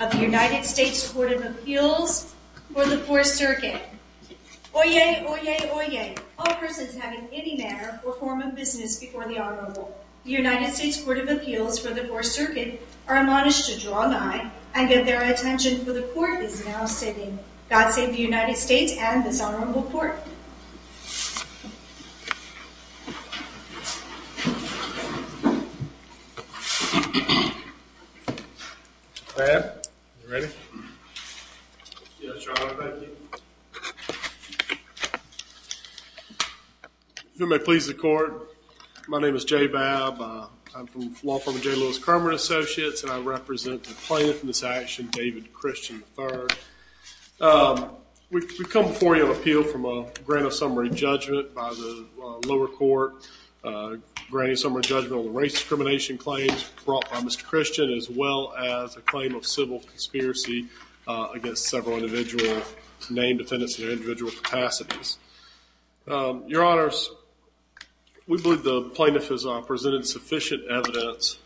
of the United States Court of Appeals for the Fourth Circuit. Oyez, oyez, oyez, all persons having any manner or form of business before the Honorable. The United States Court of Appeals for the Fourth Circuit are admonished to draw nigh and get their attention for the Court is now sitting. God save the United States and this Honorable Court. Bob, you ready? Yes, Your Honor. Thank you. If it may please the Court, my name is Jay Babb. I'm from the law firm of J. Lewis Kramer and Associates, and I represent the plaintiff in this action, David Christian, III. We've come before you on appeal from a grant of summary judgment by the lower court, a grant of summary judgment on the race discrimination claims brought by Mr. Christian, as well as a claim of civil conspiracy against several individual named defendants in their individual capacities. Your Honors, we believe the plaintiff has presented sufficient evidence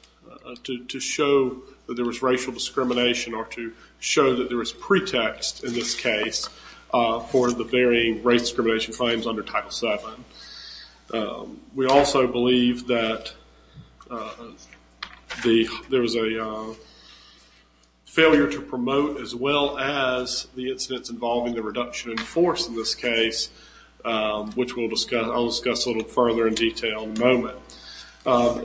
to show that there was racial discrimination or to show that there was pretext in this case for the varying race discrimination claims under Title VII. We also believe that there was a failure to promote as well as the incidents involving the reduction in force in this case, which I'll discuss a little further in detail in a moment.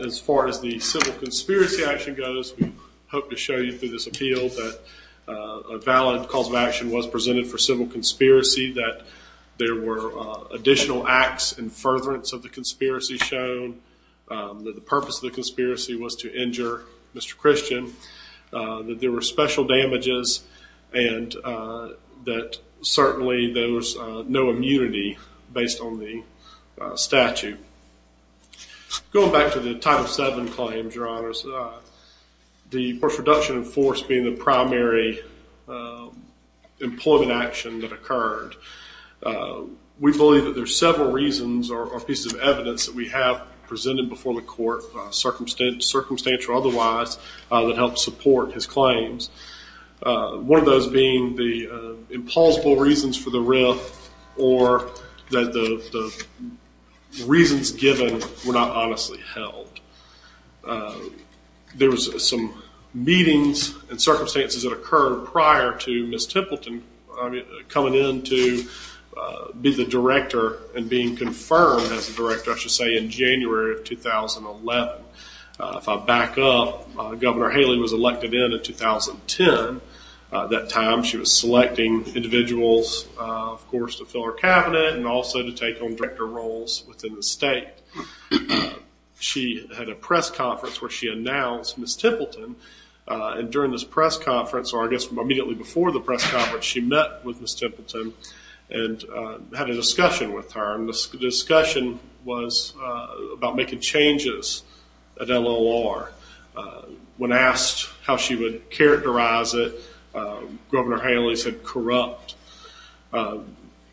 As far as the civil conspiracy action goes, we hope to show you through this appeal that a valid cause of action was presented for civil conspiracy, that there were additional acts in furtherance of the conspiracy shown, that the purpose of the conspiracy was to injure Mr. Christian, that there were special damages, and that certainly there was no immunity based on the statute. Going back to the Title VII claims, Your Honors, the force reduction in force being the primary employment action that occurred, we believe that there are several reasons or pieces of evidence that we have presented before the court, circumstantial or otherwise, that help support his claims. One of those being the implausible reasons for the riff or that the reasons given were not honestly held. There was some meetings and circumstances that occurred prior to Ms. Templeton coming in to be the director and being confirmed as the director, I should say, in January of 2011. If I back up, Governor Haley was elected in in 2010. At that time, she was selecting individuals, of course, to fill her cabinet and also to take on director roles within the state. She had a press conference where she announced Ms. Templeton. And during this press conference, or I guess immediately before the press conference, she met with Ms. Templeton and had a discussion with her. And the discussion was about making changes at LLR. When asked how she would characterize it, Governor Haley said corrupt.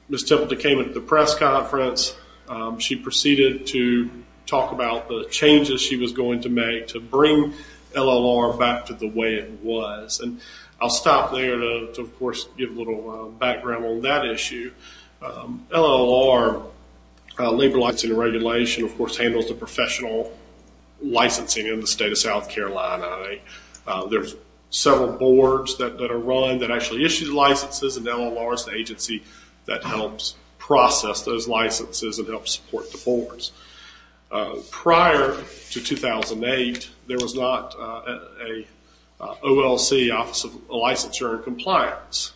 Ms. Templeton came into the press conference. She proceeded to talk about the changes she was going to make to bring LLR back to the way it was. And I'll stop there to, of course, give a little background on that issue. LLR, Labor Law Enforcement Regulation, of course, handles the professional licensing in the state of South Carolina. There's several boards that are run that actually issue licenses, and LLR is the agency that helps process those licenses and helps support the boards. Prior to 2008, there was not an OLC, Office of Licensure and Compliance.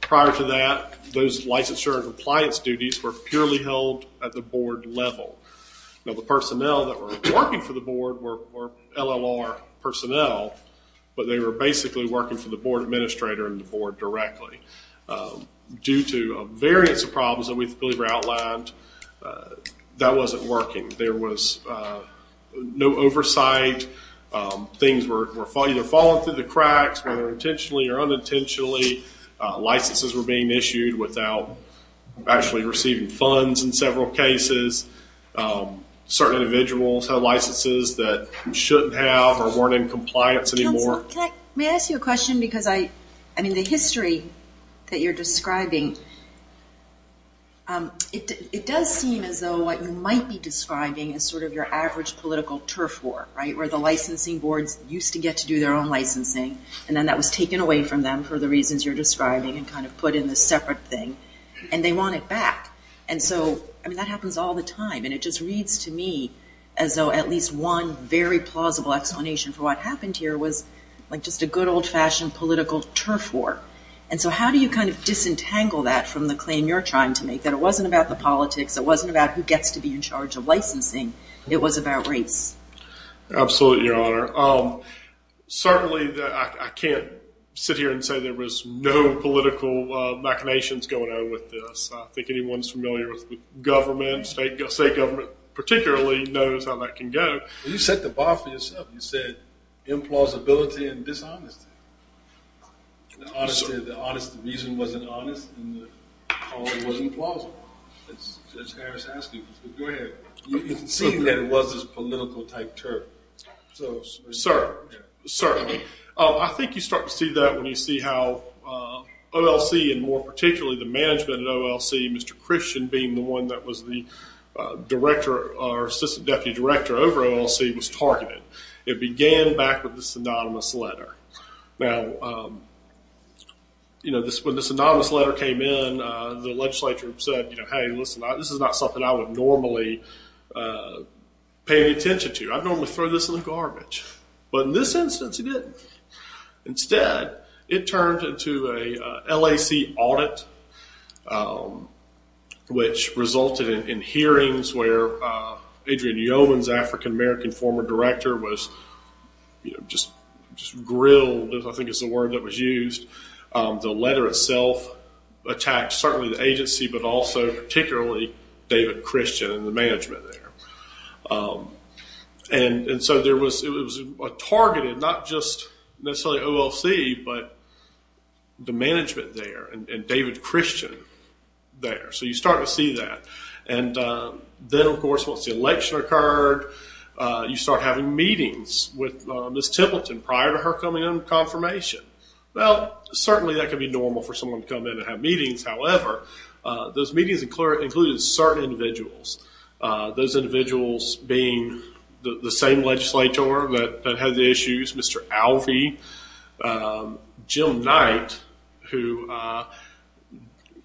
Prior to that, those licensure and compliance duties were purely held at the board level. Now, the personnel that were working for the board were LLR personnel, but they were basically working for the board administrator and the board directly. Due to a variance of problems that we believe were outlined, that wasn't working. There was no oversight. Things were either falling through the cracks, whether intentionally or unintentionally. Licenses were being issued without actually receiving funds in several cases. Certain individuals had licenses that shouldn't have or weren't in compliance anymore. May I ask you a question? Because the history that you're describing, it does seem as though what you might be describing is sort of your average political turf war, right? Where the licensing boards used to get to do their own licensing, and then that was taken away from them for the reasons you're describing and kind of put in this separate thing, and they want it back. And so, I mean, that happens all the time, and it just reads to me as though at least one very plausible explanation for what happened here was like just a good old-fashioned political turf war. And so how do you kind of disentangle that from the claim you're trying to make, that it wasn't about the politics, it wasn't about who gets to be in charge of licensing, it was about race? Absolutely, Your Honor. Certainly, I can't sit here and say there was no political machinations going on with this. I think anyone who's familiar with the government, state government particularly, knows how that can go. You set the bar for yourself. You said implausibility and dishonesty. The honest reason wasn't honest, and the cause wasn't plausible, as Judge Harris asked you. Go ahead. You can see that it was this political-type turf. Certainly. I think you start to see that when you see how OLC, and more particularly the management at OLC, Mr. Christian being the one that was the assistant deputy director over at OLC, was targeted. It began back with this anonymous letter. Now, when this anonymous letter came in, the legislature said, hey, listen, this is not something I would normally pay any attention to. I'd normally throw this in the garbage. But in this instance, he didn't. Instead, it turned into a LAC audit, which resulted in hearings where Adrian Yeomans, African-American former director, was just grilled, I think is the word that was used. The letter itself attacked certainly the agency, but also particularly David Christian and the management there. So it was targeted, not just necessarily OLC, but the management there and David Christian there. So you start to see that. Then, of course, once the election occurred, you start having meetings with Ms. Templeton prior to her coming under confirmation. Well, certainly that can be normal for someone to come in and have meetings. However, those meetings included certain individuals, those individuals being the same legislator that had the issues, Mr. Alvey, Jim Knight, who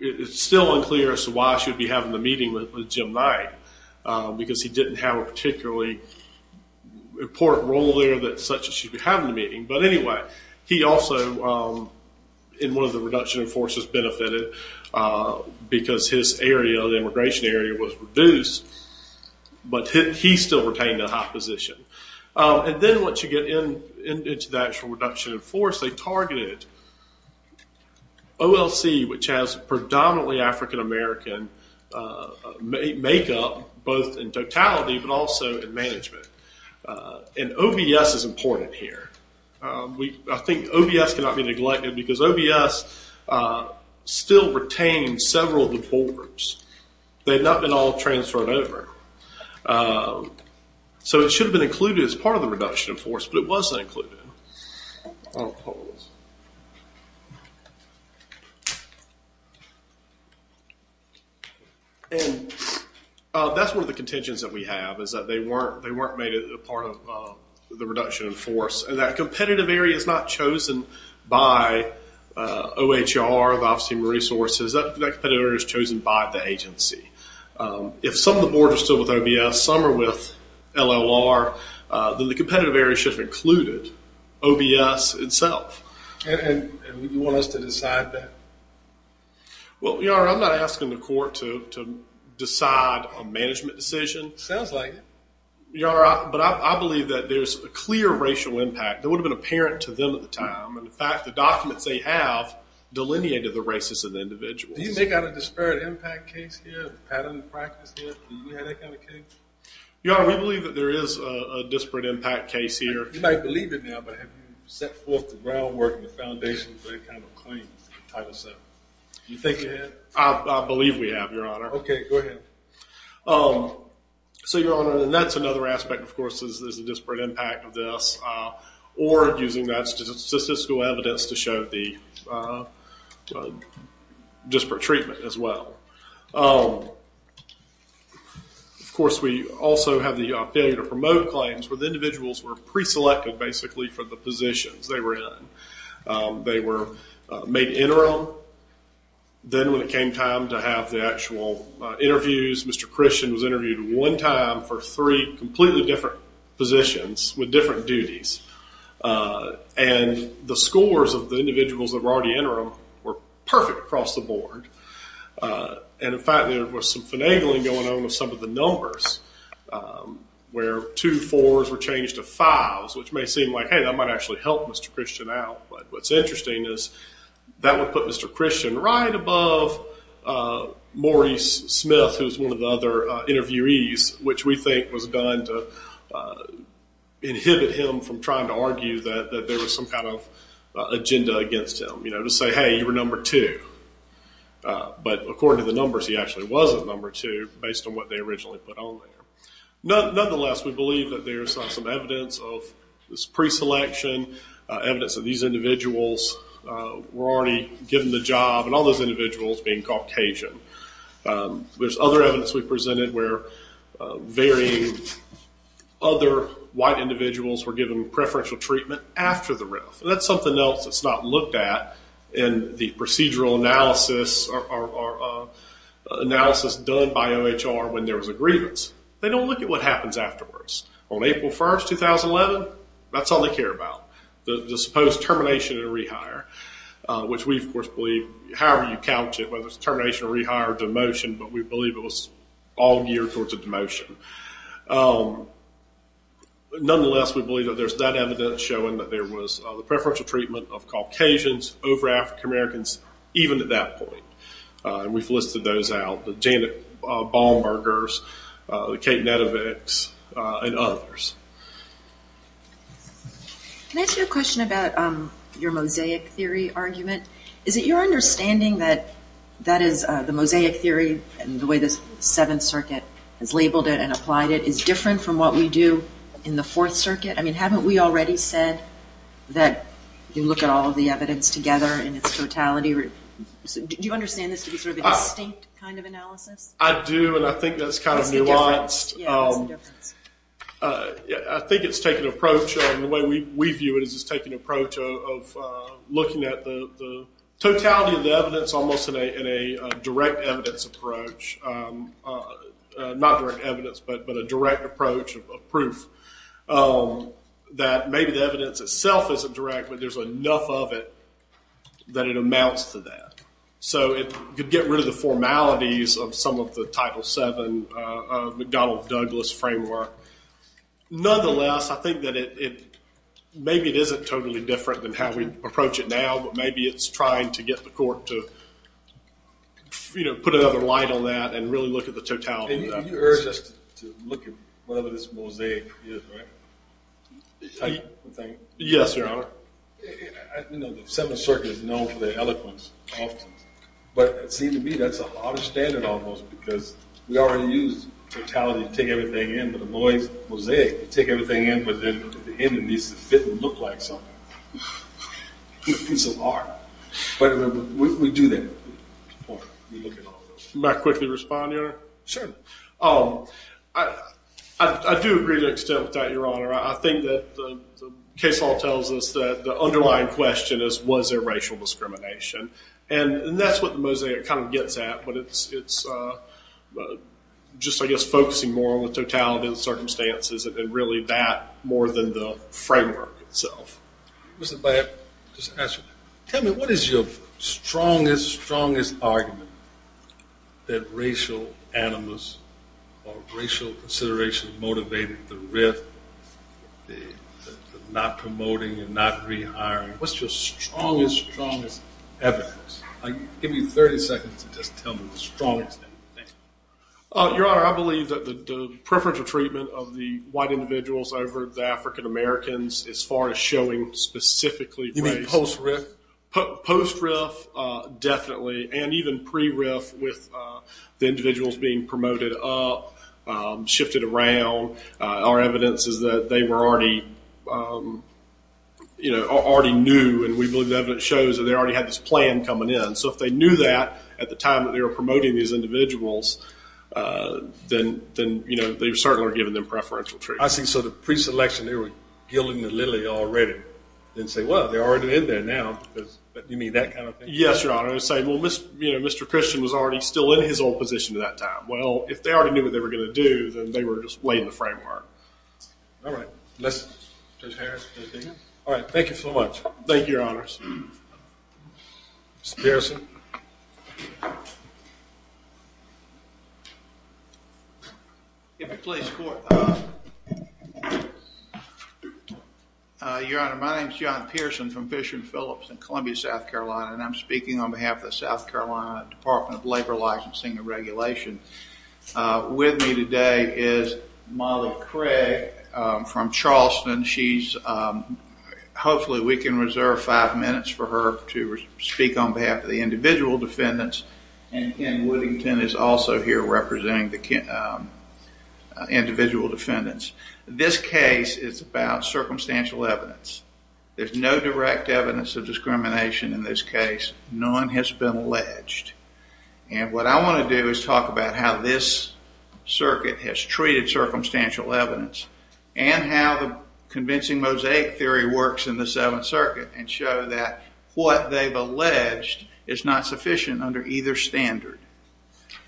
it's still unclear as to why she would be having the meeting with Jim Knight, because he didn't have a particularly important role there such that she'd be having the meeting. But anyway, he also, in one of the reduction in forces, benefited, because his area, the immigration area, was reduced. But he still retained a high position. And then once you get into the actual reduction in force, they targeted OLC, which has predominantly African American makeup, both in totality, but also in management. And OBS is important here. I think OBS cannot be neglected, because OBS still retained several of the poll groups. They had not been all transferred over. So it should have been included as part of the reduction in force, but it wasn't included. And that's one of the contentions that we have, is that they weren't made a part of the reduction in force, and that competitive area is not chosen by OHR, the Office of Human Resources. That competitive area is chosen by the agency. If some of the boards are still with OBS, some are with LLR, then the competitive area should have included OBS itself. And you want us to decide that? Well, Your Honor, I'm not asking the court to decide a management decision. Sounds like it. Your Honor, but I believe that there's a clear racial impact. That would have been apparent to them at the time. In fact, the documents they have delineated the races of the individuals. Do you make out a disparate impact case here, a pattern of practice here? Do you have that kind of case? Your Honor, we believe that there is a disparate impact case here. You might believe it now, but have you set forth the groundwork and the foundation for any kind of claim to Title VII? Do you think you have? I believe we have, Your Honor. Okay, go ahead. So, Your Honor, and that's another aspect, of course, is the disparate impact of this, or using that statistical evidence to show the disparate treatment as well. Of course, we also have the failure to promote claims where the individuals were pre-selected basically for the positions they were in. They were made interim. Then when it came time to have the actual interviews, Mr. Christian was interviewed one time for three completely different positions with different duties. The scores of the individuals that were already interim were perfect across the board. In fact, there was some finagling going on with some of the numbers where two fours were changed to fives, which may seem like, hey, that might actually help Mr. Christian out. What's interesting is that would put Mr. Christian right above Maurice Smith, who's one of the other interviewees, which we think was done to inhibit him from trying to argue that there was some kind of agenda against him, to say, hey, you were number two. But according to the numbers, he actually wasn't number two, based on what they originally put on there. Nonetheless, we believe that there's some evidence of this pre-selection, evidence that these individuals were already given the job, and all those individuals being Caucasian. There's other evidence we presented where very other white individuals were given preferential treatment after the RIF. That's something else that's not looked at in the procedural analysis done by OHR when there was a grievance. They don't look at what happens afterwards. On April 1st, 2011, that's all they care about, the supposed termination and rehire, which we, of course, believe, however you couch it, whether it's termination, rehire, or demotion, but we believe it was all geared towards a demotion. Nonetheless, we believe that there's that evidence showing that there was the preferential treatment of Caucasians over African-Americans, even at that point. We've listed those out, the Janet Bahlbergers, the Kate Nedevicks, and others. Can I ask you a question about your mosaic theory argument? Is it your understanding that that is the mosaic theory, and the way the Seventh Circuit has labeled it and applied it is different from what we do in the Fourth Circuit? I mean, haven't we already said that you look at all of the evidence together in its totality? Do you understand this to be sort of a distinct kind of analysis? I do, and I think that's kind of nuanced. I think it's taken an approach, and the way we view it is it's taken an approach of looking at the totality of the evidence almost in a direct evidence approach. Not direct evidence, but a direct approach of proof that maybe the evidence itself isn't direct, but there's enough of it that it amounts to that. So it could get rid of the formalities of some of the Title VII McDonnell-Douglas framework. Nonetheless, I think that maybe it isn't totally different than how we approach it now, but maybe it's trying to get the court to put another light on that and really look at the totality of the evidence. You urge us to look at whatever this mosaic is, right? Yes, Your Honor. You know, the Seventh Circuit is known for their eloquence often, but it seems to me that's a hard standard almost because we already use totality to take everything in, but a mosaic, you take everything in, but then at the end it needs to fit and look like something, a piece of art. But we do that. May I quickly respond, Your Honor? Sure. I do agree to an extent with that, Your Honor. I think that the case law tells us that the underlying question is was there racial discrimination, and that's what the mosaic kind of gets at, but it's just, I guess, focusing more on the totality of the circumstances and really that more than the framework itself. Mr. Black, just to ask you, tell me what is your strongest, strongest argument that racial animus or racial consideration motivated the writ, the not promoting and not rehiring? What's your strongest, strongest evidence? Give me 30 seconds to just tell me the strongest thing. Your Honor, I believe that the preferential treatment of the white individuals over the African Americans as far as showing specifically race. You mean post-riff? Post-riff, definitely, and even pre-riff with the individuals being promoted up, shifted around. Our evidence is that they were already, you know, already knew, and we believe the evidence shows that they already had this plan coming in. So if they knew that at the time that they were promoting these individuals, then, you know, they certainly would have given them preferential treatment. I see. So the pre-selection, they were gilding the lily already and say, well, they're already in there now. Do you mean that kind of thing? Yes, Your Honor. I was saying, well, you know, Mr. Christian was already still in his old position at that time. Well, if they already knew what they were going to do, then they were just laying the framework. All right. Mr. Harris, do you have anything else? All right. Thank you so much. Thank you, Your Honors. Mr. Pearson? If you please, Court. Your Honor, my name is John Pearson from Fisher & Phillips in Columbia, South Carolina, and I'm speaking on behalf of the South Carolina Department of Labor Licensing and Regulation. With me today is Molly Craig from Charleston. She's, hopefully we can reserve five minutes for her to speak on behalf of the individual defendants, and Ken Woodington is also here representing the individual defendants. This case is about circumstantial evidence. There's no direct evidence of discrimination in this case. None has been alleged. And what I want to do is talk about how this circuit has treated circumstantial evidence and how the convincing mosaic theory works in the Seventh Circuit and show that what they've alleged is not sufficient under either standard.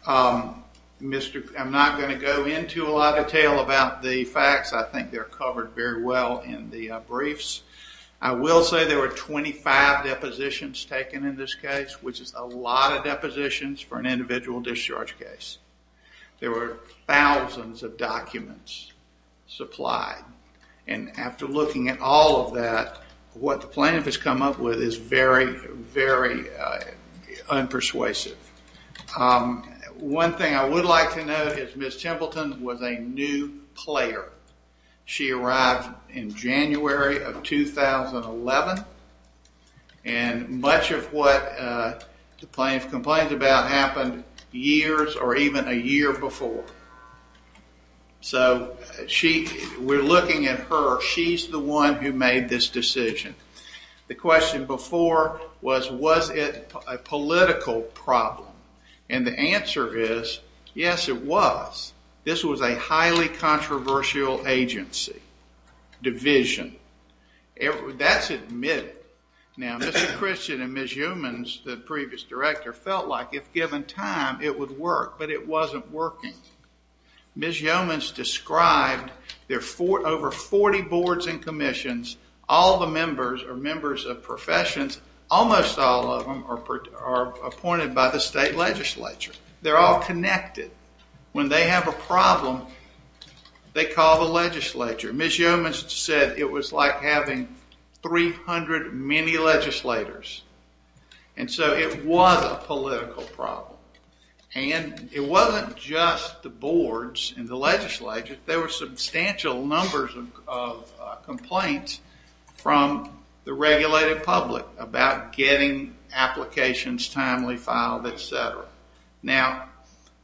I'm not going to go into a lot of detail about the facts. I think they're covered very well in the briefs. I will say there were 25 depositions taken in this case, which is a lot of depositions for an individual discharge case. There were thousands of documents supplied. And after looking at all of that, what the plaintiff has come up with is very, very unpersuasive. One thing I would like to note is Ms. Templeton was a new player. She arrived in January of 2011, and much of what the plaintiff complained about happened years or even a year before. So we're looking at her. She's the one who made this decision. The question before was, was it a political problem? And the answer is, yes, it was. This was a highly controversial agency, division. That's admitted. Now, Mr. Christian and Ms. Yeomans, the previous director, felt like if given time it would work, but it wasn't working. All the members are members of professions. Almost all of them are appointed by the state legislature. They're all connected. When they have a problem, they call the legislature. Ms. Yeomans said it was like having 300 mini-legislators. And so it was a political problem. And it wasn't just the boards and the legislature. There were substantial numbers of complaints from the regulated public about getting applications timely filed, et cetera. Now,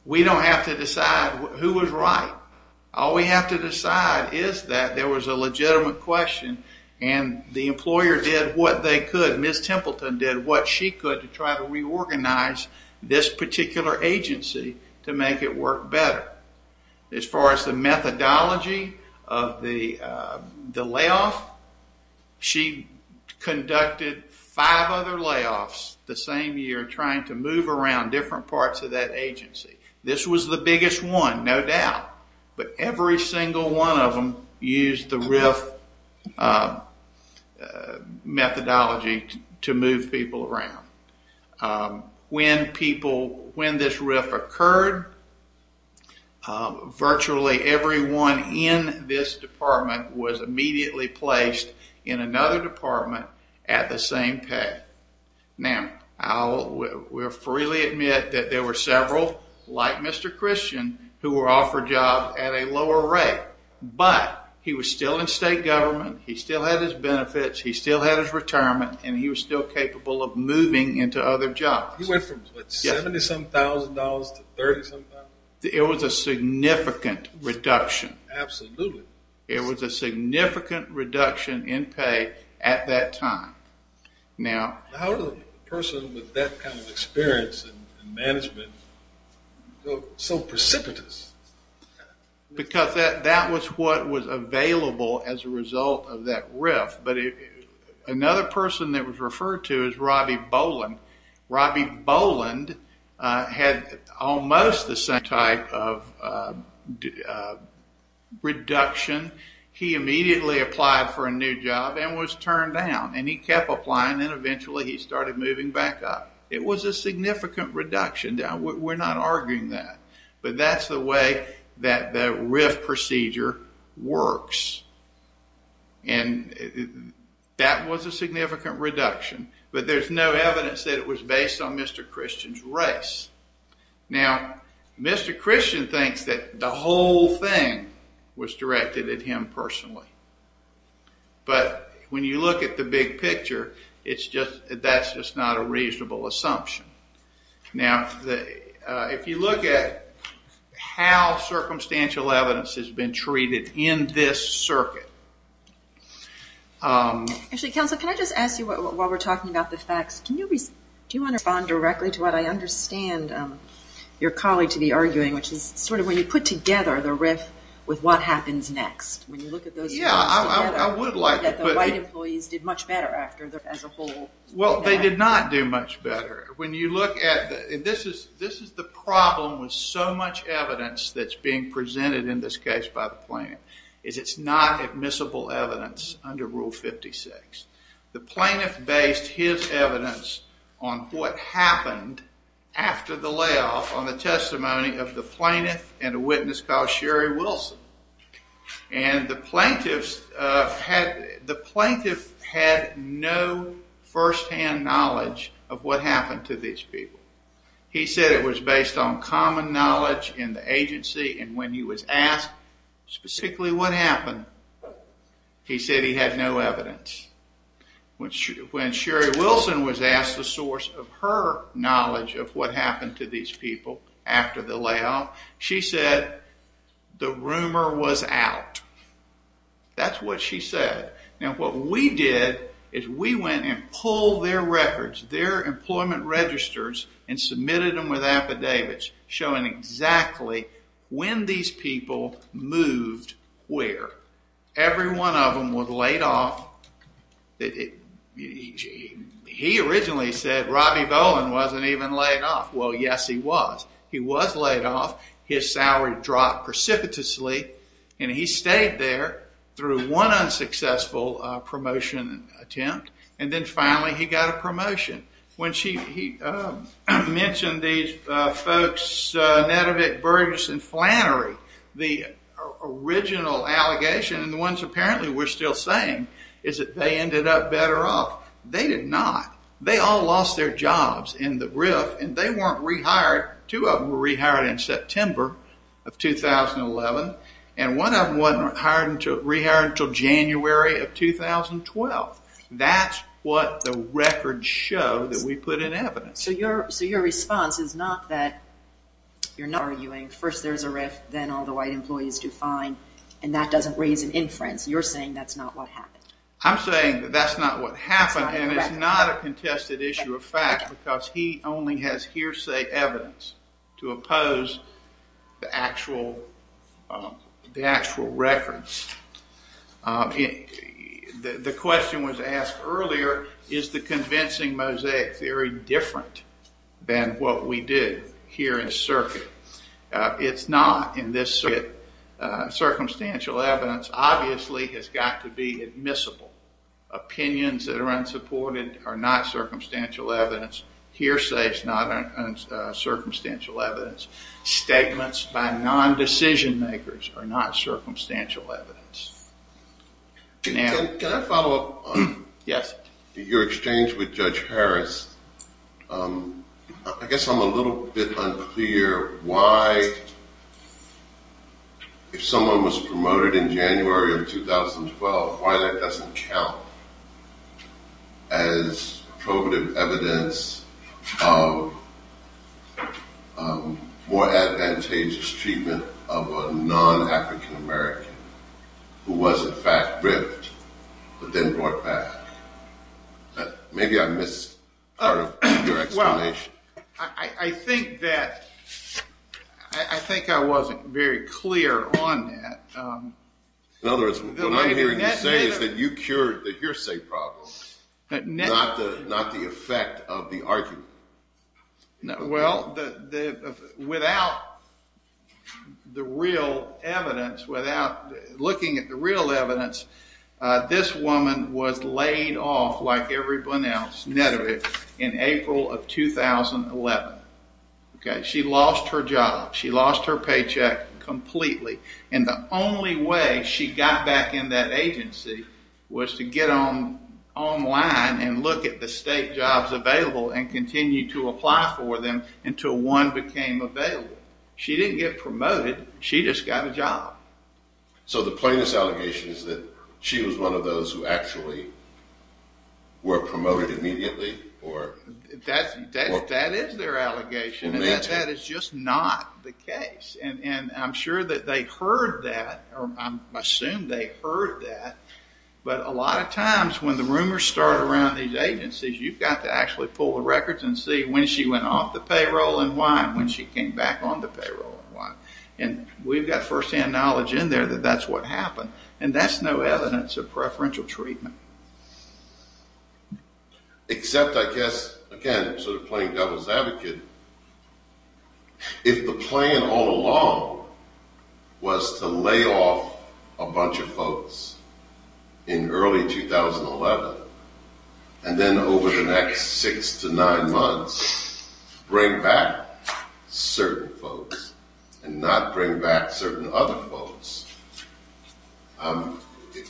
we don't have to decide who was right. All we have to decide is that there was a legitimate question, and the employer did what they could. Ms. Templeton did what she could to try to reorganize this particular agency to make it work better. As far as the methodology of the layoff, she conducted five other layoffs the same year, trying to move around different parts of that agency. This was the biggest one, no doubt. But every single one of them used the RIF methodology to move people around. When this RIF occurred, virtually everyone in this department was immediately placed in another department at the same pay. Now, I will freely admit that there were several, like Mr. Christian, who were offered jobs at a lower rate. But he was still in state government. He still had his benefits. He still had his retirement. And he was still capable of moving into other jobs. He went from $70,000 to $30,000? It was a significant reduction. Absolutely. It was a significant reduction in pay at that time. How did a person with that kind of experience in management go so precipitous? Because that was what was available as a result of that RIF. Another person that was referred to is Robbie Boland. Robbie Boland had almost the same type of reduction. He immediately applied for a new job and was turned down. And he kept applying, and eventually he started moving back up. It was a significant reduction. We're not arguing that. But that's the way that the RIF procedure works. And that was a significant reduction. But there's no evidence that it was based on Mr. Christian's race. Now, Mr. Christian thinks that the whole thing was directed at him personally. But when you look at the big picture, that's just not a reasonable assumption. Now, if you look at how circumstantial evidence has been treated in this circuit. Actually, counsel, can I just ask you, while we're talking about the facts, do you want to respond directly to what I understand your colleague to be arguing, which is sort of when you put together the RIF with what happens next, when you look at those facts together, that the white employees did much better as a whole. Well, they did not do much better. When you look at, and this is the problem with so much evidence that's being presented in this case by the plaintiff, is it's not admissible evidence under Rule 56. The plaintiff based his evidence on what happened after the layoff on the testimony of the plaintiff and a witness called Sherry Wilson. And the plaintiff had no first-hand knowledge of what happened to these people. He said it was based on common knowledge in the agency, and when he was asked specifically what happened, he said he had no evidence. When Sherry Wilson was asked the source of her knowledge of what happened to these people after the layoff, she said the rumor was out. That's what she said. Now what we did is we went and pulled their records, their employment registers, and submitted them with affidavits showing exactly when these people moved where. Every one of them was laid off. He originally said Robbie Bowen wasn't even laid off. Well, yes he was. He was laid off. His salary dropped precipitously, and he stayed there through one unsuccessful promotion attempt, and then finally he got a promotion. When she mentioned these folks Nedevick, Burgess, and Flannery, the original allegation, and the ones apparently we're still saying, is that they ended up better off. They did not. They all lost their jobs in the RIF, and they weren't rehired. Two of them were rehired in September of 2011, and one of them wasn't rehired until January of 2012. That's what the records show that we put in evidence. So your response is not that you're not arguing, first there's a RIF, then all the white employees do fine, and that doesn't raise an inference. You're saying that's not what happened. I'm saying that that's not what happened, and it's not a contested issue of fact, because he only has hearsay evidence to oppose the actual records. The question was asked earlier, is the convincing mosaic theory different than what we did here in circuit? It's not in this circuit. Circumstantial evidence obviously has got to be admissible. Opinions that are unsupported are not circumstantial evidence. Hearsay is not circumstantial evidence. Statements by non-decision makers are not circumstantial evidence. Can I follow up on your exchange with Judge Harris? I guess I'm a little bit unclear why, if someone was promoted in January of 2012, why that doesn't count as probative evidence of more advantageous treatment of a non-African American who was in fact RIFed, but then brought back. Maybe I missed part of your explanation. I think that I wasn't very clear on that. In other words, what I'm hearing you say is that you cured the hearsay problem, not the effect of the argument. Well, without the real evidence, without looking at the real evidence, this woman was laid off like everyone else, in April of 2011. She lost her job. She lost her paycheck completely. The only way she got back in that agency was to get online and look at the state jobs available and continue to apply for them until one became available. She didn't get promoted. She just got a job. So the plaintiff's allegation is that she was one of those who actually were promoted immediately? That is their allegation. That is just not the case. I'm sure that they heard that, or I assume they heard that, but a lot of times when the rumors start around these agencies, you've got to actually pull the records and see when she went off the payroll and why, and when she came back on the payroll and why. And we've got firsthand knowledge in there that that's what happened, and that's no evidence of preferential treatment. Except, I guess, again, sort of playing devil's advocate, if the plan all along was to lay off a bunch of folks in early 2011 and then over the next six to nine months bring back certain folks and not bring back certain other folks,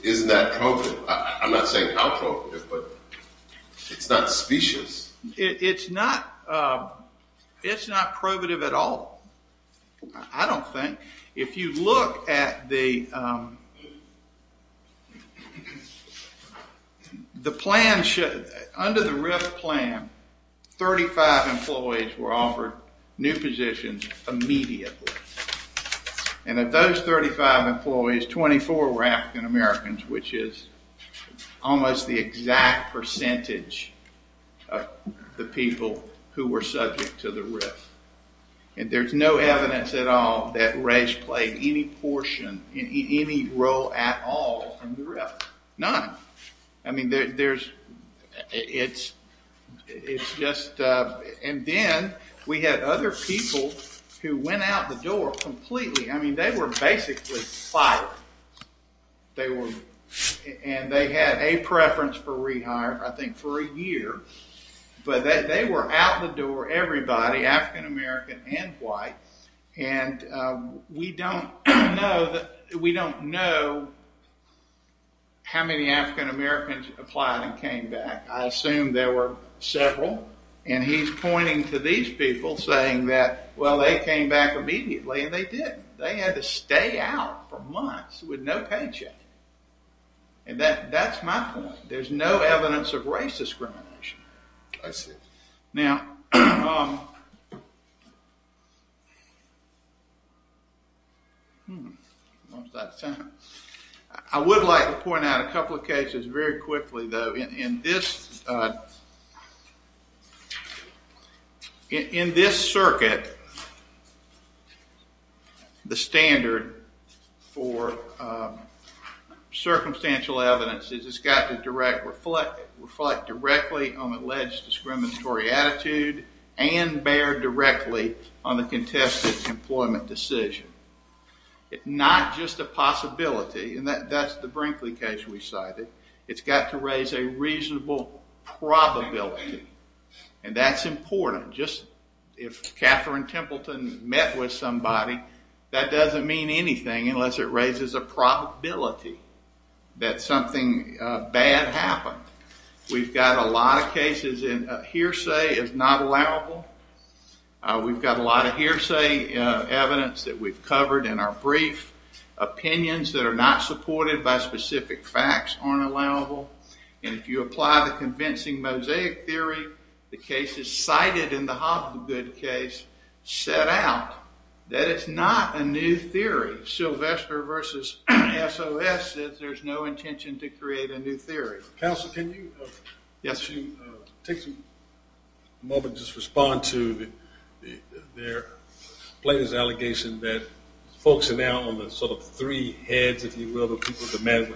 isn't that probative? I'm not saying how probative, but it's not specious. It's not probative at all, I don't think. If you look at the plan, under the RIF plan, 35 employees were offered new positions immediately. And of those 35 employees, 24 were African Americans, which is almost the exact percentage of the people who were subject to the RIF. And there's no evidence at all that race played any portion, any role at all in the RIF, none. I mean, it's just... And then we had other people who went out the door completely. I mean, they were basically fired. They were... And they had a preference for rehire, I think, for a year. But they were out the door, everybody, African American and white. And we don't know how many African Americans applied and came back. I assume there were several. And he's pointing to these people saying that, well, they came back immediately, and they did. They had to stay out for months with no paycheck. And that's my point. There's no evidence of race discrimination. I see. Now... I would like to point out a couple of cases very quickly, though. In this circuit, the standard for circumstantial evidence is it's got to reflect directly on alleged discriminatory attitude and bear directly on the contested employment decision. It's not just a possibility. And that's the Brinkley case we cited. It's got to raise a reasonable probability. And that's important. Just if Katherine Templeton met with somebody, that doesn't mean anything unless it raises a probability that something bad happened. We've got a lot of cases in hearsay is not allowable. We've got a lot of hearsay evidence that we've covered in our brief. Opinions that are not supported by specific facts aren't allowable. And if you apply the convincing mosaic theory, the cases cited in the Hobgood case set out that it's not a new theory. Sylvester versus SOS says there's no intention to create a new theory. Counsel, can you take a moment and just respond to their allegation that folks are now on the sort of three heads, if you will, of people like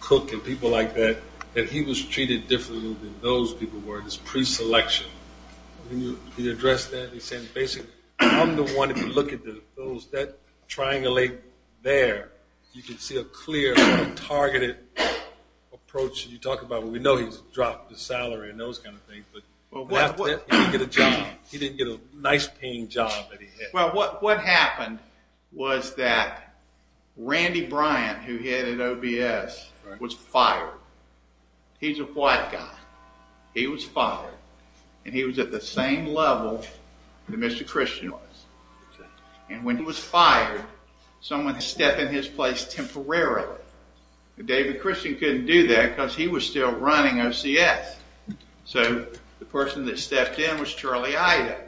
Cook and people like that, that he was treated differently than those people were in his preselection. Can you address that? I'm the one to look at those. That triangulate there, you can see a clear, targeted approach. You talk about, well, we know he's dropped his salary and those kind of things, but he didn't get a job. He didn't get a nice-paying job that he had. Well, what happened was that Randy Bryant, who he had at OBS, was fired. He's a white guy. He was fired. And he was at the same level that Mr. Christian was. And when he was fired, someone stepped in his place temporarily. David Christian couldn't do that because he was still running OCS. So the person that stepped in was Charlie Ida.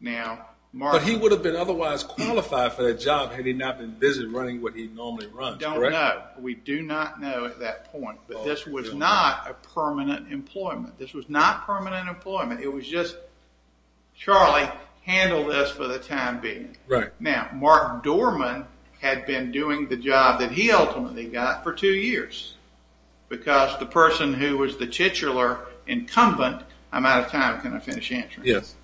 But he would have been otherwise qualified for that job had he not been busy running what he normally runs, correct? We do not know at that point. But this was not a permanent employment. This was not permanent employment. It was just, Charlie, handle this for the time being. Right. Now, Mark Dorman had been doing the job that he ultimately got for two years because the person who was the titular incumbent, I'm out of time, can I finish answering? Yes.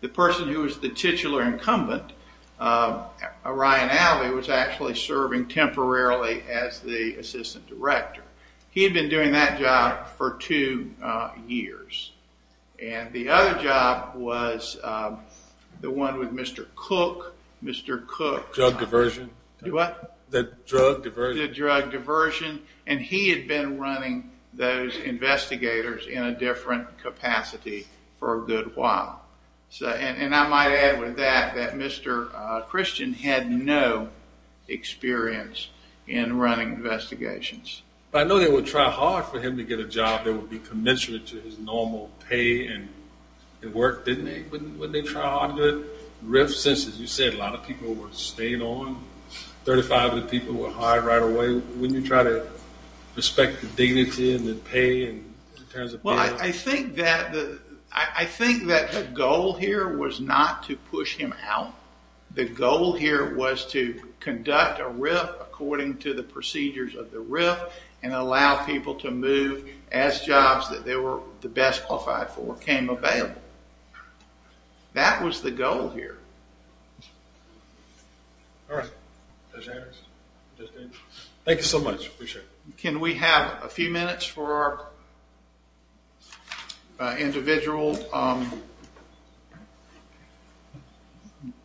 The person who was the titular incumbent, Ryan Alvey, was actually serving temporarily as the assistant director. He had been doing that job for two years. And the other job was the one with Mr. Cook. Mr. Cook. Drug diversion. What? The drug diversion. The drug diversion. And he had been running those investigators in a different capacity for a good while. And I might add with that that Mr. Christian had no experience in running investigations. But I know they would try hard for him to get a job that would be commensurate to his normal pay and work, didn't they? Wouldn't they try hard to do it? Since, as you said, a lot of people were staying on, 35 of the people were hired right away, wouldn't you try to respect the dignity and the pay in terms of bail? Well, I think that the goal here was not to push him out. The goal here was to conduct a RIF according to the procedures of the RIF and allow people to move as jobs that they were the best qualified for came available. That was the goal here. All right. Judge Anderson? Thank you so much. Appreciate it. Can we have a few minutes for our individual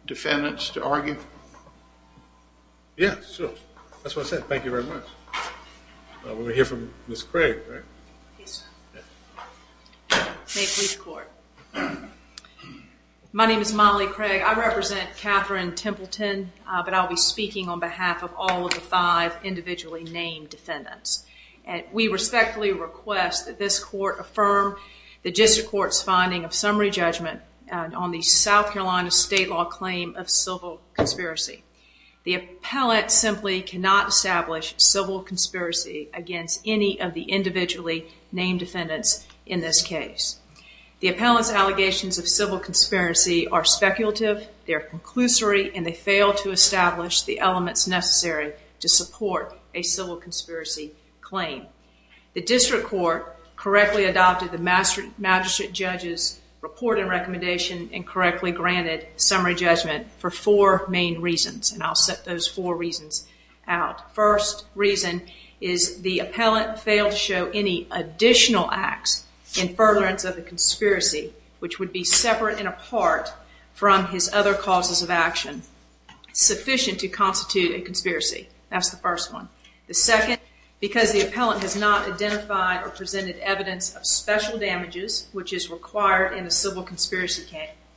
defendants to argue? Yes, sure. That's what I said. Thank you very much. We're going to hear from Ms. Craig, right? Yes, sir. May it please the Court. My name is Molly Craig. I represent Katherine Templeton, but I'll be speaking on behalf of all of the five individually named defendants. We respectfully request that this Court affirm the district court's finding of summary judgment on the South Carolina state law claim of civil conspiracy. The appellant simply cannot establish civil conspiracy against any of the individually named defendants in this case. The appellant's allegations of civil conspiracy are speculative, they're conclusory, and they fail to establish the elements necessary to support a civil conspiracy claim. The district court correctly adopted the magistrate judge's report and recommendation and correctly granted summary judgment for four main reasons, and I'll set those four reasons out. First reason is the appellant failed to show any additional acts in furtherance of the conspiracy, which would be separate and apart from his other causes of action, sufficient to constitute a conspiracy. That's the first one. The second, because the appellant has not identified or presented evidence of special damages, which is required in a civil conspiracy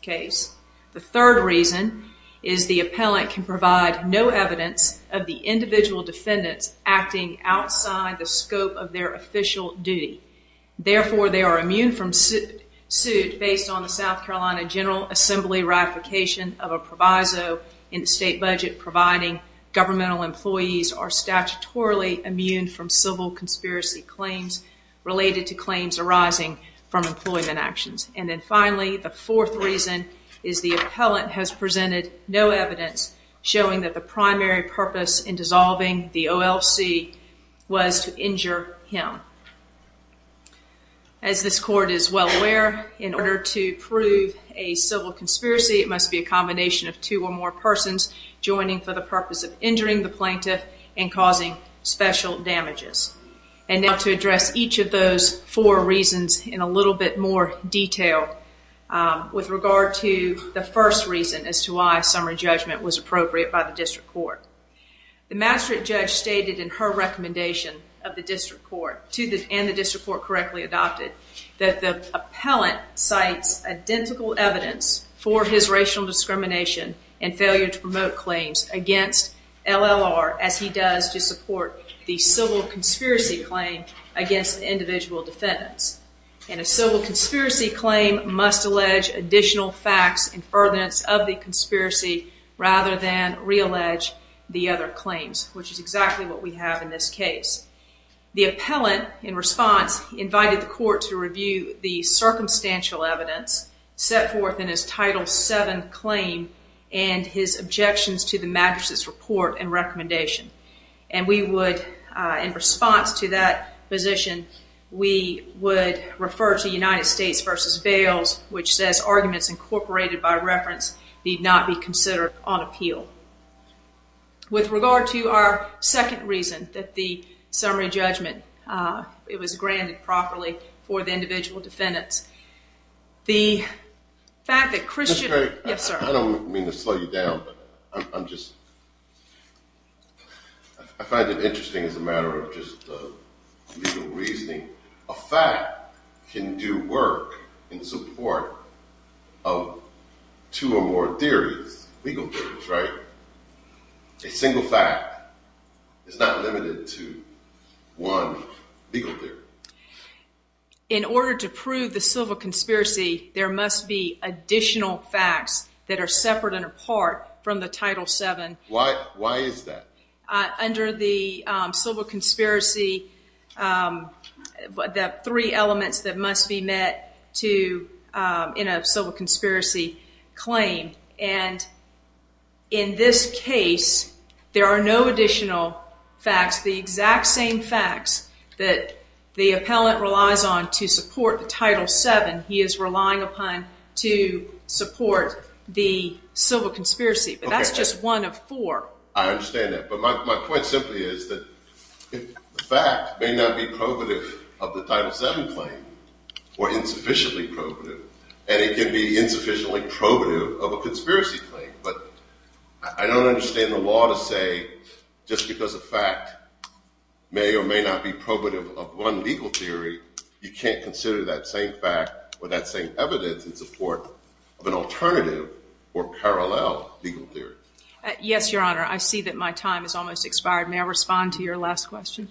case. The third reason is the appellant can provide no evidence of the individual defendants acting outside the scope of their official duty. Therefore, they are immune from suit based on the South Carolina General Assembly ratification of a proviso in the state budget providing governmental employees are statutorily immune from civil conspiracy claims related to claims arising from employment actions. And then finally, the fourth reason is the appellant has presented no evidence showing that the primary purpose in dissolving the OLC was to injure him. As this court is well aware, in order to prove a civil conspiracy, it must be a combination of two or more persons joining for the purpose of injuring the plaintiff and causing special damages. And now to address each of those four reasons in a little bit more detail with regard to the first reason as to why summary judgment was appropriate by the district court. The magistrate judge stated in her recommendation of the district court and the district court correctly adopted that the appellant cites identical evidence for his racial discrimination and failure to promote claims against LLR as he does to support the civil conspiracy claim against individual defendants. And a civil conspiracy claim must allege additional facts in furtherance of the conspiracy rather than reallege the other claims, which is exactly what we have in this case. The appellant, in response, invited the court to review the circumstantial evidence set forth in his Title VII claim and his objections to the magistrate's report and recommendation. And we would, in response to that position, we would refer to United States v. Bales, which says arguments incorporated by reference need not be considered on appeal. With regard to our second reason that the summary judgment, it was granted properly for the individual defendants, the fact that Christian... I don't mean to slow you down, but I'm just... I find it interesting as a matter of just legal reasoning. A fact can do work in support of two or more theories, legal theories, right? A single fact is not limited to one legal theory. In order to prove the civil conspiracy, there must be additional facts that are separate and apart from the Title VII. Why is that? Under the civil conspiracy, the three elements that must be met in a civil conspiracy claim. And in this case, there are no additional facts. The exact same facts that the appellant relies on to support the Title VII he is relying upon to support the civil conspiracy. But that's just one of four. I understand that. But my point simply is that the fact may not be probative of the Title VII claim or insufficiently probative. And it can be insufficiently probative of a conspiracy claim. But I don't understand the law to say, just because a fact may or may not be probative of one legal theory, you can't consider that same fact or that same evidence in support of an alternative or parallel legal theory. Yes, Your Honor. I see that my time has almost expired. May I respond to your last question?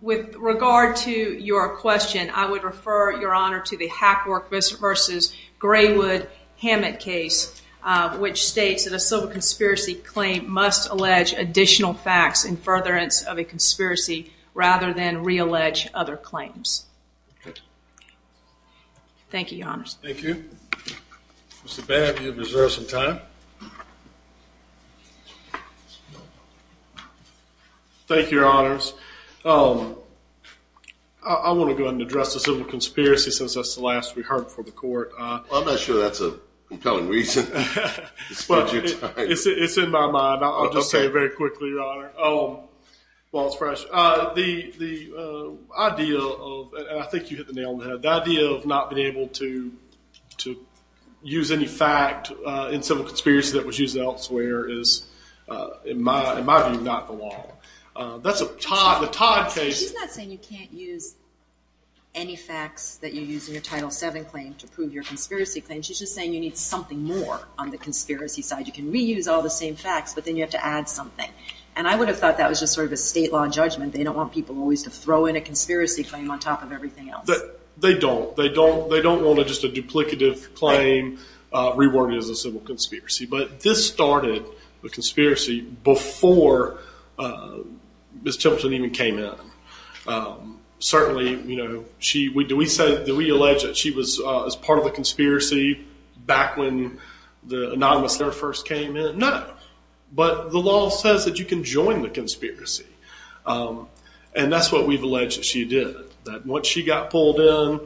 With regard to your question, I would refer, Your Honor, to the Hackwork v. Graywood-Hammett case, which states that a civil conspiracy claim must allege additional facts in furtherance of a conspiracy rather than reallege other claims. Thank you, Your Honors. Thank you. Mr. Baird, you have reserved some time. Thank you, Your Honors. I want to go ahead and address the civil conspiracy since that's the last we heard before the court. I'm not sure that's a compelling reason. It's in my mind. I'll just say it very quickly, Your Honor. While it's fresh. The idea of, and I think you hit the nail on the head, the idea of not being able to use any fact in civil conspiracy that was used elsewhere is, in my view, not the law. That's a Todd case. She's not saying you can't use any facts that you use in your Title VII claim to prove your conspiracy claim. She's just saying you need something more on the conspiracy side. You can reuse all the same facts, but then you have to add something. And I would have thought that was just sort of a state law judgment. They don't want people always to throw in a conspiracy claim on top of everything else. They don't. They don't want just a duplicative claim reworded as a civil conspiracy. But this started the conspiracy before Ms. Templeton even came in. Certainly, you know, do we allege that she was part of the conspiracy back when the anonymous letter first came in? No. But the law says that you can join the conspiracy. And that's what we've alleged that she did. That once she got pulled in,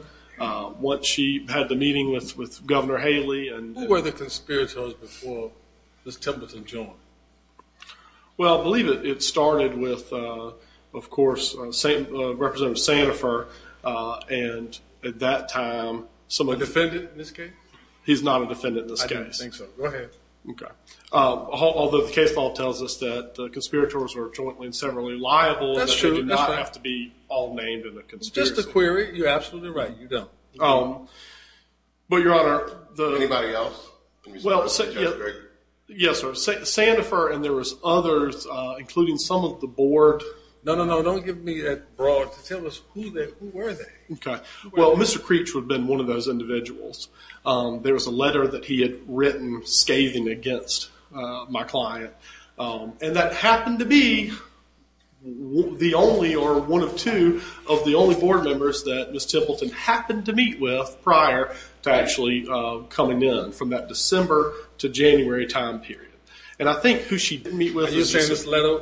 once she had the meeting with Governor Haley. Who were the conspirators before Ms. Templeton joined? Well, believe it, it started with, of course, Representative Sandifer. And at that time, someone. A defendant in this case? He's not a defendant in this case. I didn't think so. Go ahead. Okay. Although the case law tells us that the conspirators are jointly and severally liable. That's true. They do not have to be all named in the conspiracy. It's just a query. You're absolutely right. You don't. But, Your Honor. Anybody else? Yes, sir. Sandifer and there was others, including some of the board. No, no, no. Don't give me that broad. Tell us who they were. Okay. Well, Mr. Creech would have been one of those individuals. There was a letter that he had written scathing against my client. And that happened to be the only or one of two of the only board members that Ms. Templeton happened to meet with prior to actually coming in, from that December to January time period. And I think who she didn't meet with was... Are you saying this letter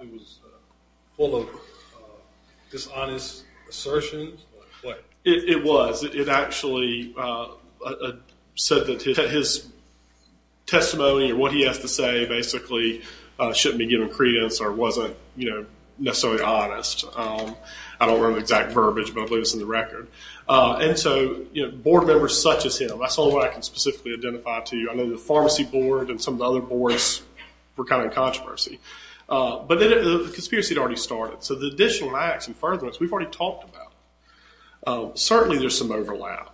was full of dishonest assertions? It was. It actually said that his testimony or what he has to say basically shouldn't be given credence or wasn't necessarily honest. I don't remember the exact verbiage, but I believe it's in the record. And so, you know, board members such as him. That's the only way I can specifically identify to you. I know the pharmacy board and some of the other boards were kind of in controversy. But the conspiracy had already started. So the additional acts and furtherments, we've already talked about. Certainly there's some overlap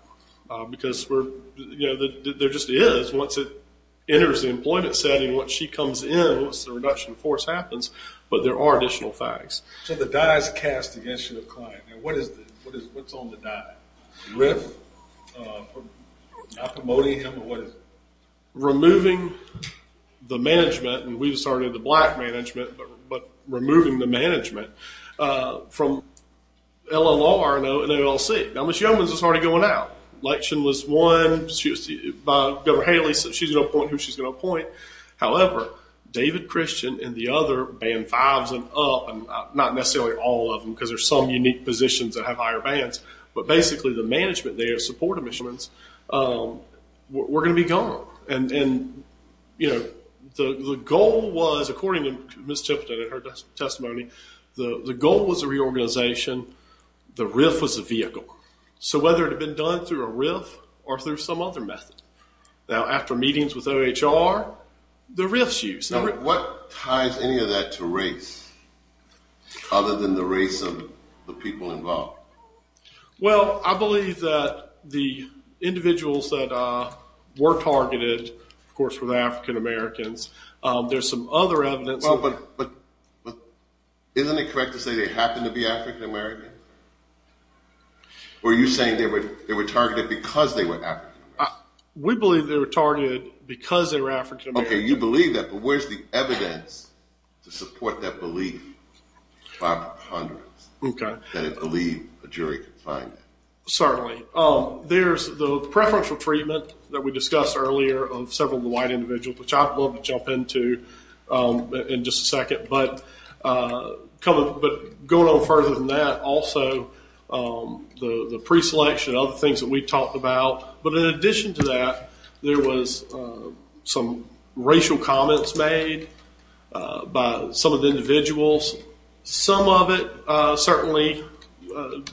because, you know, there just is. Once it enters the employment setting, once she comes in, once the reduction of force happens, but there are additional facts. So the die is cast against you, the client. And what's on the die? RIF, promoting him, or what is it? Removing the management, and we've started the black management, but removing the management from LLR and ALC. Now, Ms. Yeomans is already going out. Election was won by Governor Haley. She's going to appoint who she's going to appoint. However, David Christian and the other band 5s and up, not necessarily all of them because there's some unique positions that have higher bands, but basically the management there, support admissions, were going to be gone. And, you know, the goal was, according to Ms. Tipton in her testimony, the goal was a reorganization. The RIF was a vehicle. So whether it had been done through a RIF or through some other method. Now, after meetings with OHR, the RIFs use. Now, what ties any of that to race other than the race of the people involved? Well, I believe that the individuals that were targeted, of course, were African Americans. There's some other evidence. Well, but isn't it correct to say they happened to be African Americans? Were you saying they were targeted because they were African Americans? We believe they were targeted because they were African Americans. Okay, you believe that, but where's the evidence to support that belief? Five hundredths. Okay. That it believed a jury could find that. Certainly. There's the preferential treatment that we discussed earlier of several of the white individuals, which I'd love to jump into in just a second. But going on further than that, also, the preselection, other things that we talked about. But in addition to that, there was some racial comments made by some of the individuals. Some of it, certainly,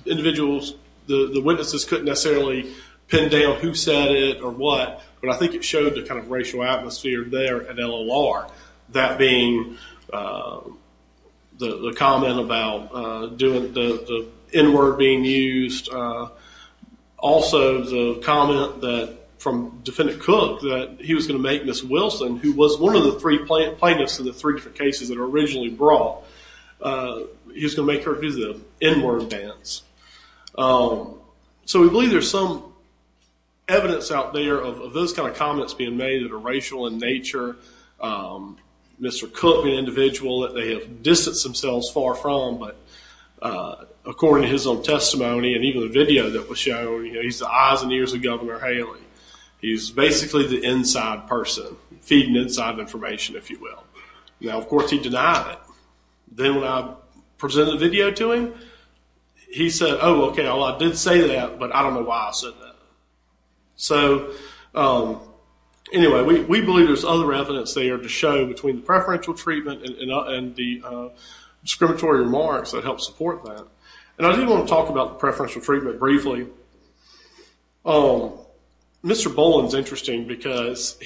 individuals, the witnesses couldn't necessarily pin down who said it or what, but I think it showed the racial atmosphere there at LOR. That being the comment about the N-word being used. Also, the comment from Defendant Cook that he was going to make Miss Wilson, who was one of the plaintiffs in the three different cases that were originally brought, he was going to make her do the N-word dance. So, we believe there's some evidence out there of those kind of comments being made that are racial in nature. Mr. Cook, the individual that they have distanced themselves far from, but according to his own testimony and even the video that was shown, he's the eyes and ears of Governor Haley. He's basically the inside person, feeding inside information, if you will. Now, of course, he denied it. Then when I presented the video to him, he said, oh, okay, well, I did say that, but I don't know why I said that. So, anyway, we believe there's other evidence there to show between the preferential treatment and the discriminatory remarks that help support that. And I do want to talk about the preferential treatment briefly. Mr. Boland's interesting because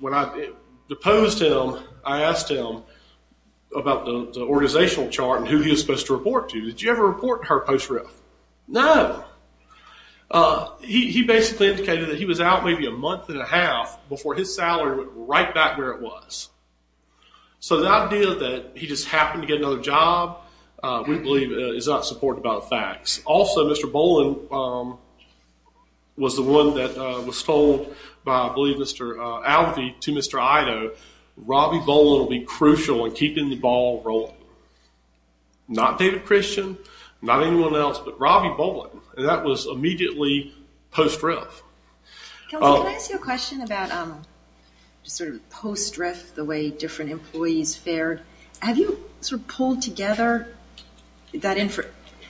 when I deposed him, I asked him about the organizational chart and who he was supposed to report to. Did you ever report to her post-riff? No. He basically indicated that he was out maybe a month and a half before his salary went right back where it was. So, the idea that he just happened to get another job, we believe, is not supported by the facts. Also, Mr. Boland was the one that was told by, I believe, Mr. Alvey to Mr. Ido, Robbie Boland will be crucial in keeping the ball rolling. Not David Christian, not anyone else, but Robbie Boland. And that was immediately post-riff. Counselor, can I ask you a question about sort of post-riff, the way different employees fared? Have you sort of pulled together that info?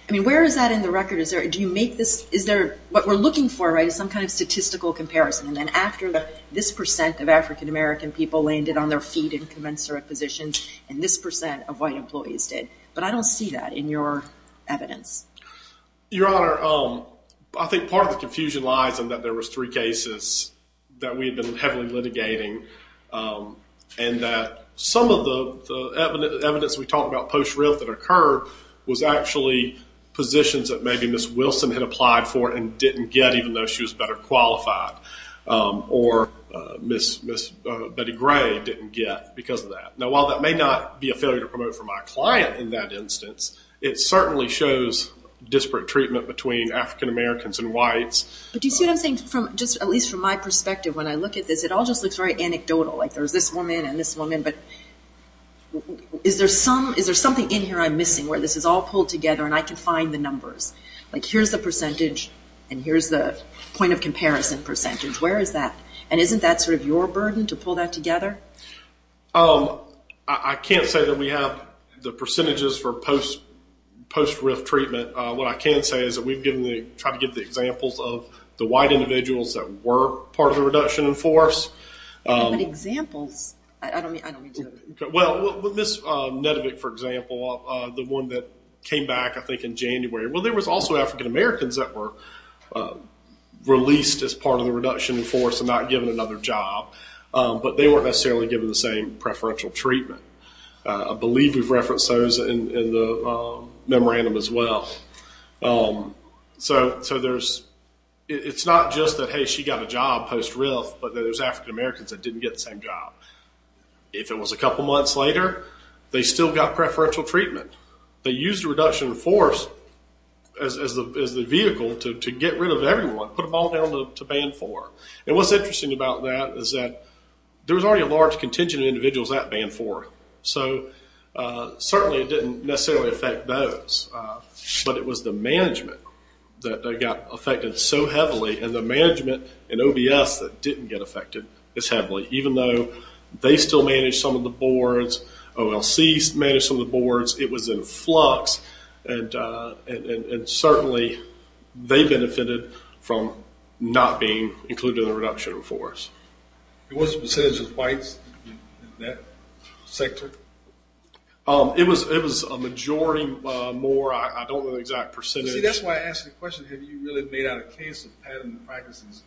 I mean, where is that in the record? Is there, do you make this, is there, what we're looking for, right, is some kind of statistical comparison. And then after this percent of African-American people landed on their feet in commensurate positions and this percent of white employees did. But I don't see that in your evidence. Your Honor, I think part of the confusion lies in that there was three cases that we had been heavily litigating and that some of the evidence we talked about post-riff that occurred was actually positions that maybe Ms. Wilson had applied for and didn't get even though she was better qualified. Or Ms. Betty Gray didn't get because of that. Now, while that may not be a failure to promote for my client in that instance, it certainly shows disparate treatment between African-Americans and whites. But do you see what I'm saying? At least from my perspective when I look at this, it all just looks very anecdotal. Like there's this woman and this woman. But is there something in here I'm missing where this is all pulled together and I can find the numbers? Like here's the percentage and here's the point of comparison percentage. Where is that? And isn't that sort of your burden to pull that together? I can't say that we have the percentages for post-riff treatment. What I can say is that we've tried to give the examples of the white individuals that were part of the reduction in force. What examples? I don't mean to. Well, Ms. Nedevick, for example, the one that came back I think in January. Well, there was also African-Americans that were released as part of the reduction in force and not given another job. But they weren't necessarily given the same preferential treatment. I believe we've referenced those in the memorandum as well. So it's not just that, hey, she got a job post-riff, but that it was African-Americans that didn't get the same job. If it was a couple months later, they still got preferential treatment. They used the reduction in force as the vehicle to get rid of everyone, put them all down to band four. And what's interesting about that is that there was already a large contingent of individuals that band four. So certainly it didn't necessarily affect those. But it was the management that got affected so heavily, and the management in OBS that didn't get affected as heavily, even though they still managed some of the boards, OLC managed some of the boards. It was in flux. And certainly they benefited from not being included in the reduction in force. What was the percentage of whites in that sector? It was a majority more. I don't know the exact percentage. See, that's why I asked the question, have you really made out a case of patent practices?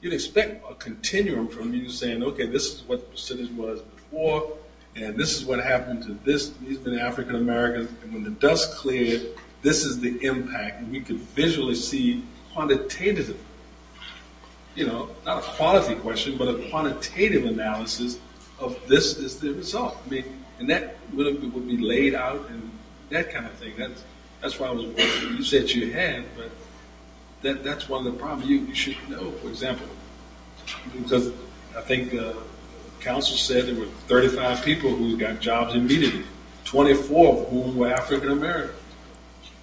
You'd expect a continuum from you saying, okay, this is what the percentage was before, and this is what happened to this. He's been an African-American, and when the dust cleared, this is the impact. We could visually see quantitative, you know, not a quality question, but a quantitative analysis of this is the result. And that would be laid out and that kind of thing. That's why I was wondering, you said you had, but that's one of the problems. You should know, for example. Because I think the council said there were 35 people who got jobs immediately, 24 of whom were African-American.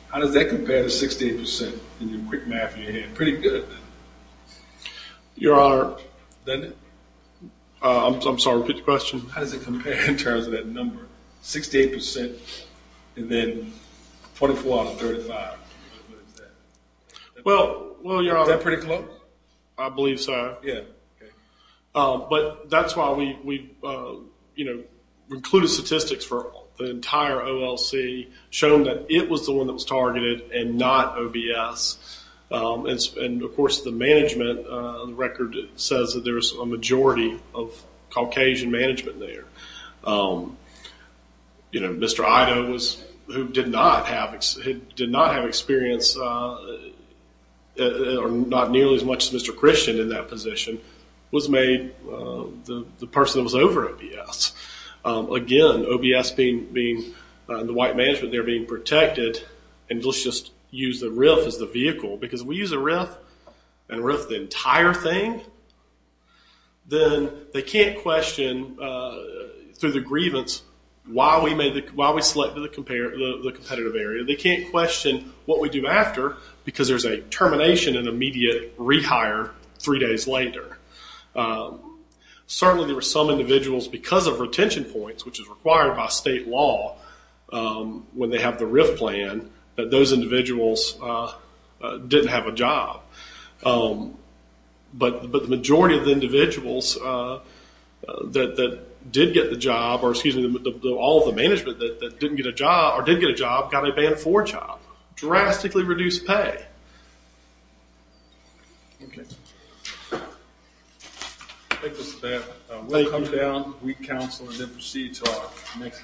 How does that compare to 68% in your quick math in your head? Pretty good. Your Honor. I'm sorry, repeat the question. How does it compare in terms of that number, 68% and then 24 out of 35? Well, Your Honor. Is that pretty close? I believe so. Yeah. Okay. But that's why we, you know, included statistics for the entire OLC, showing that it was the one that was targeted and not OBS. And, of course, the management record says that there's a majority of Caucasian management there. You know, Mr. Ido, who did not have experience, or not nearly as much as Mr. Christian in that position, was made the person that was over OBS. Again, OBS being the white management there being protected, and let's just use the RIF as the vehicle. Because if we use a RIF and RIF the entire thing, then they can't question, through the grievance, why we selected the competitive area. They can't question what we do after, because there's a termination and immediate rehire three days later. Certainly there were some individuals, because of retention points, which is required by state law when they have the RIF plan, that those individuals didn't have a job. But the majority of the individuals that did get the job, or excuse me, all of the management that didn't get a job, or did get a job, got a Band 4 job. Drastically reduced pay. I'll take this at that. We'll come down, we'll counsel, and then proceed to our next case.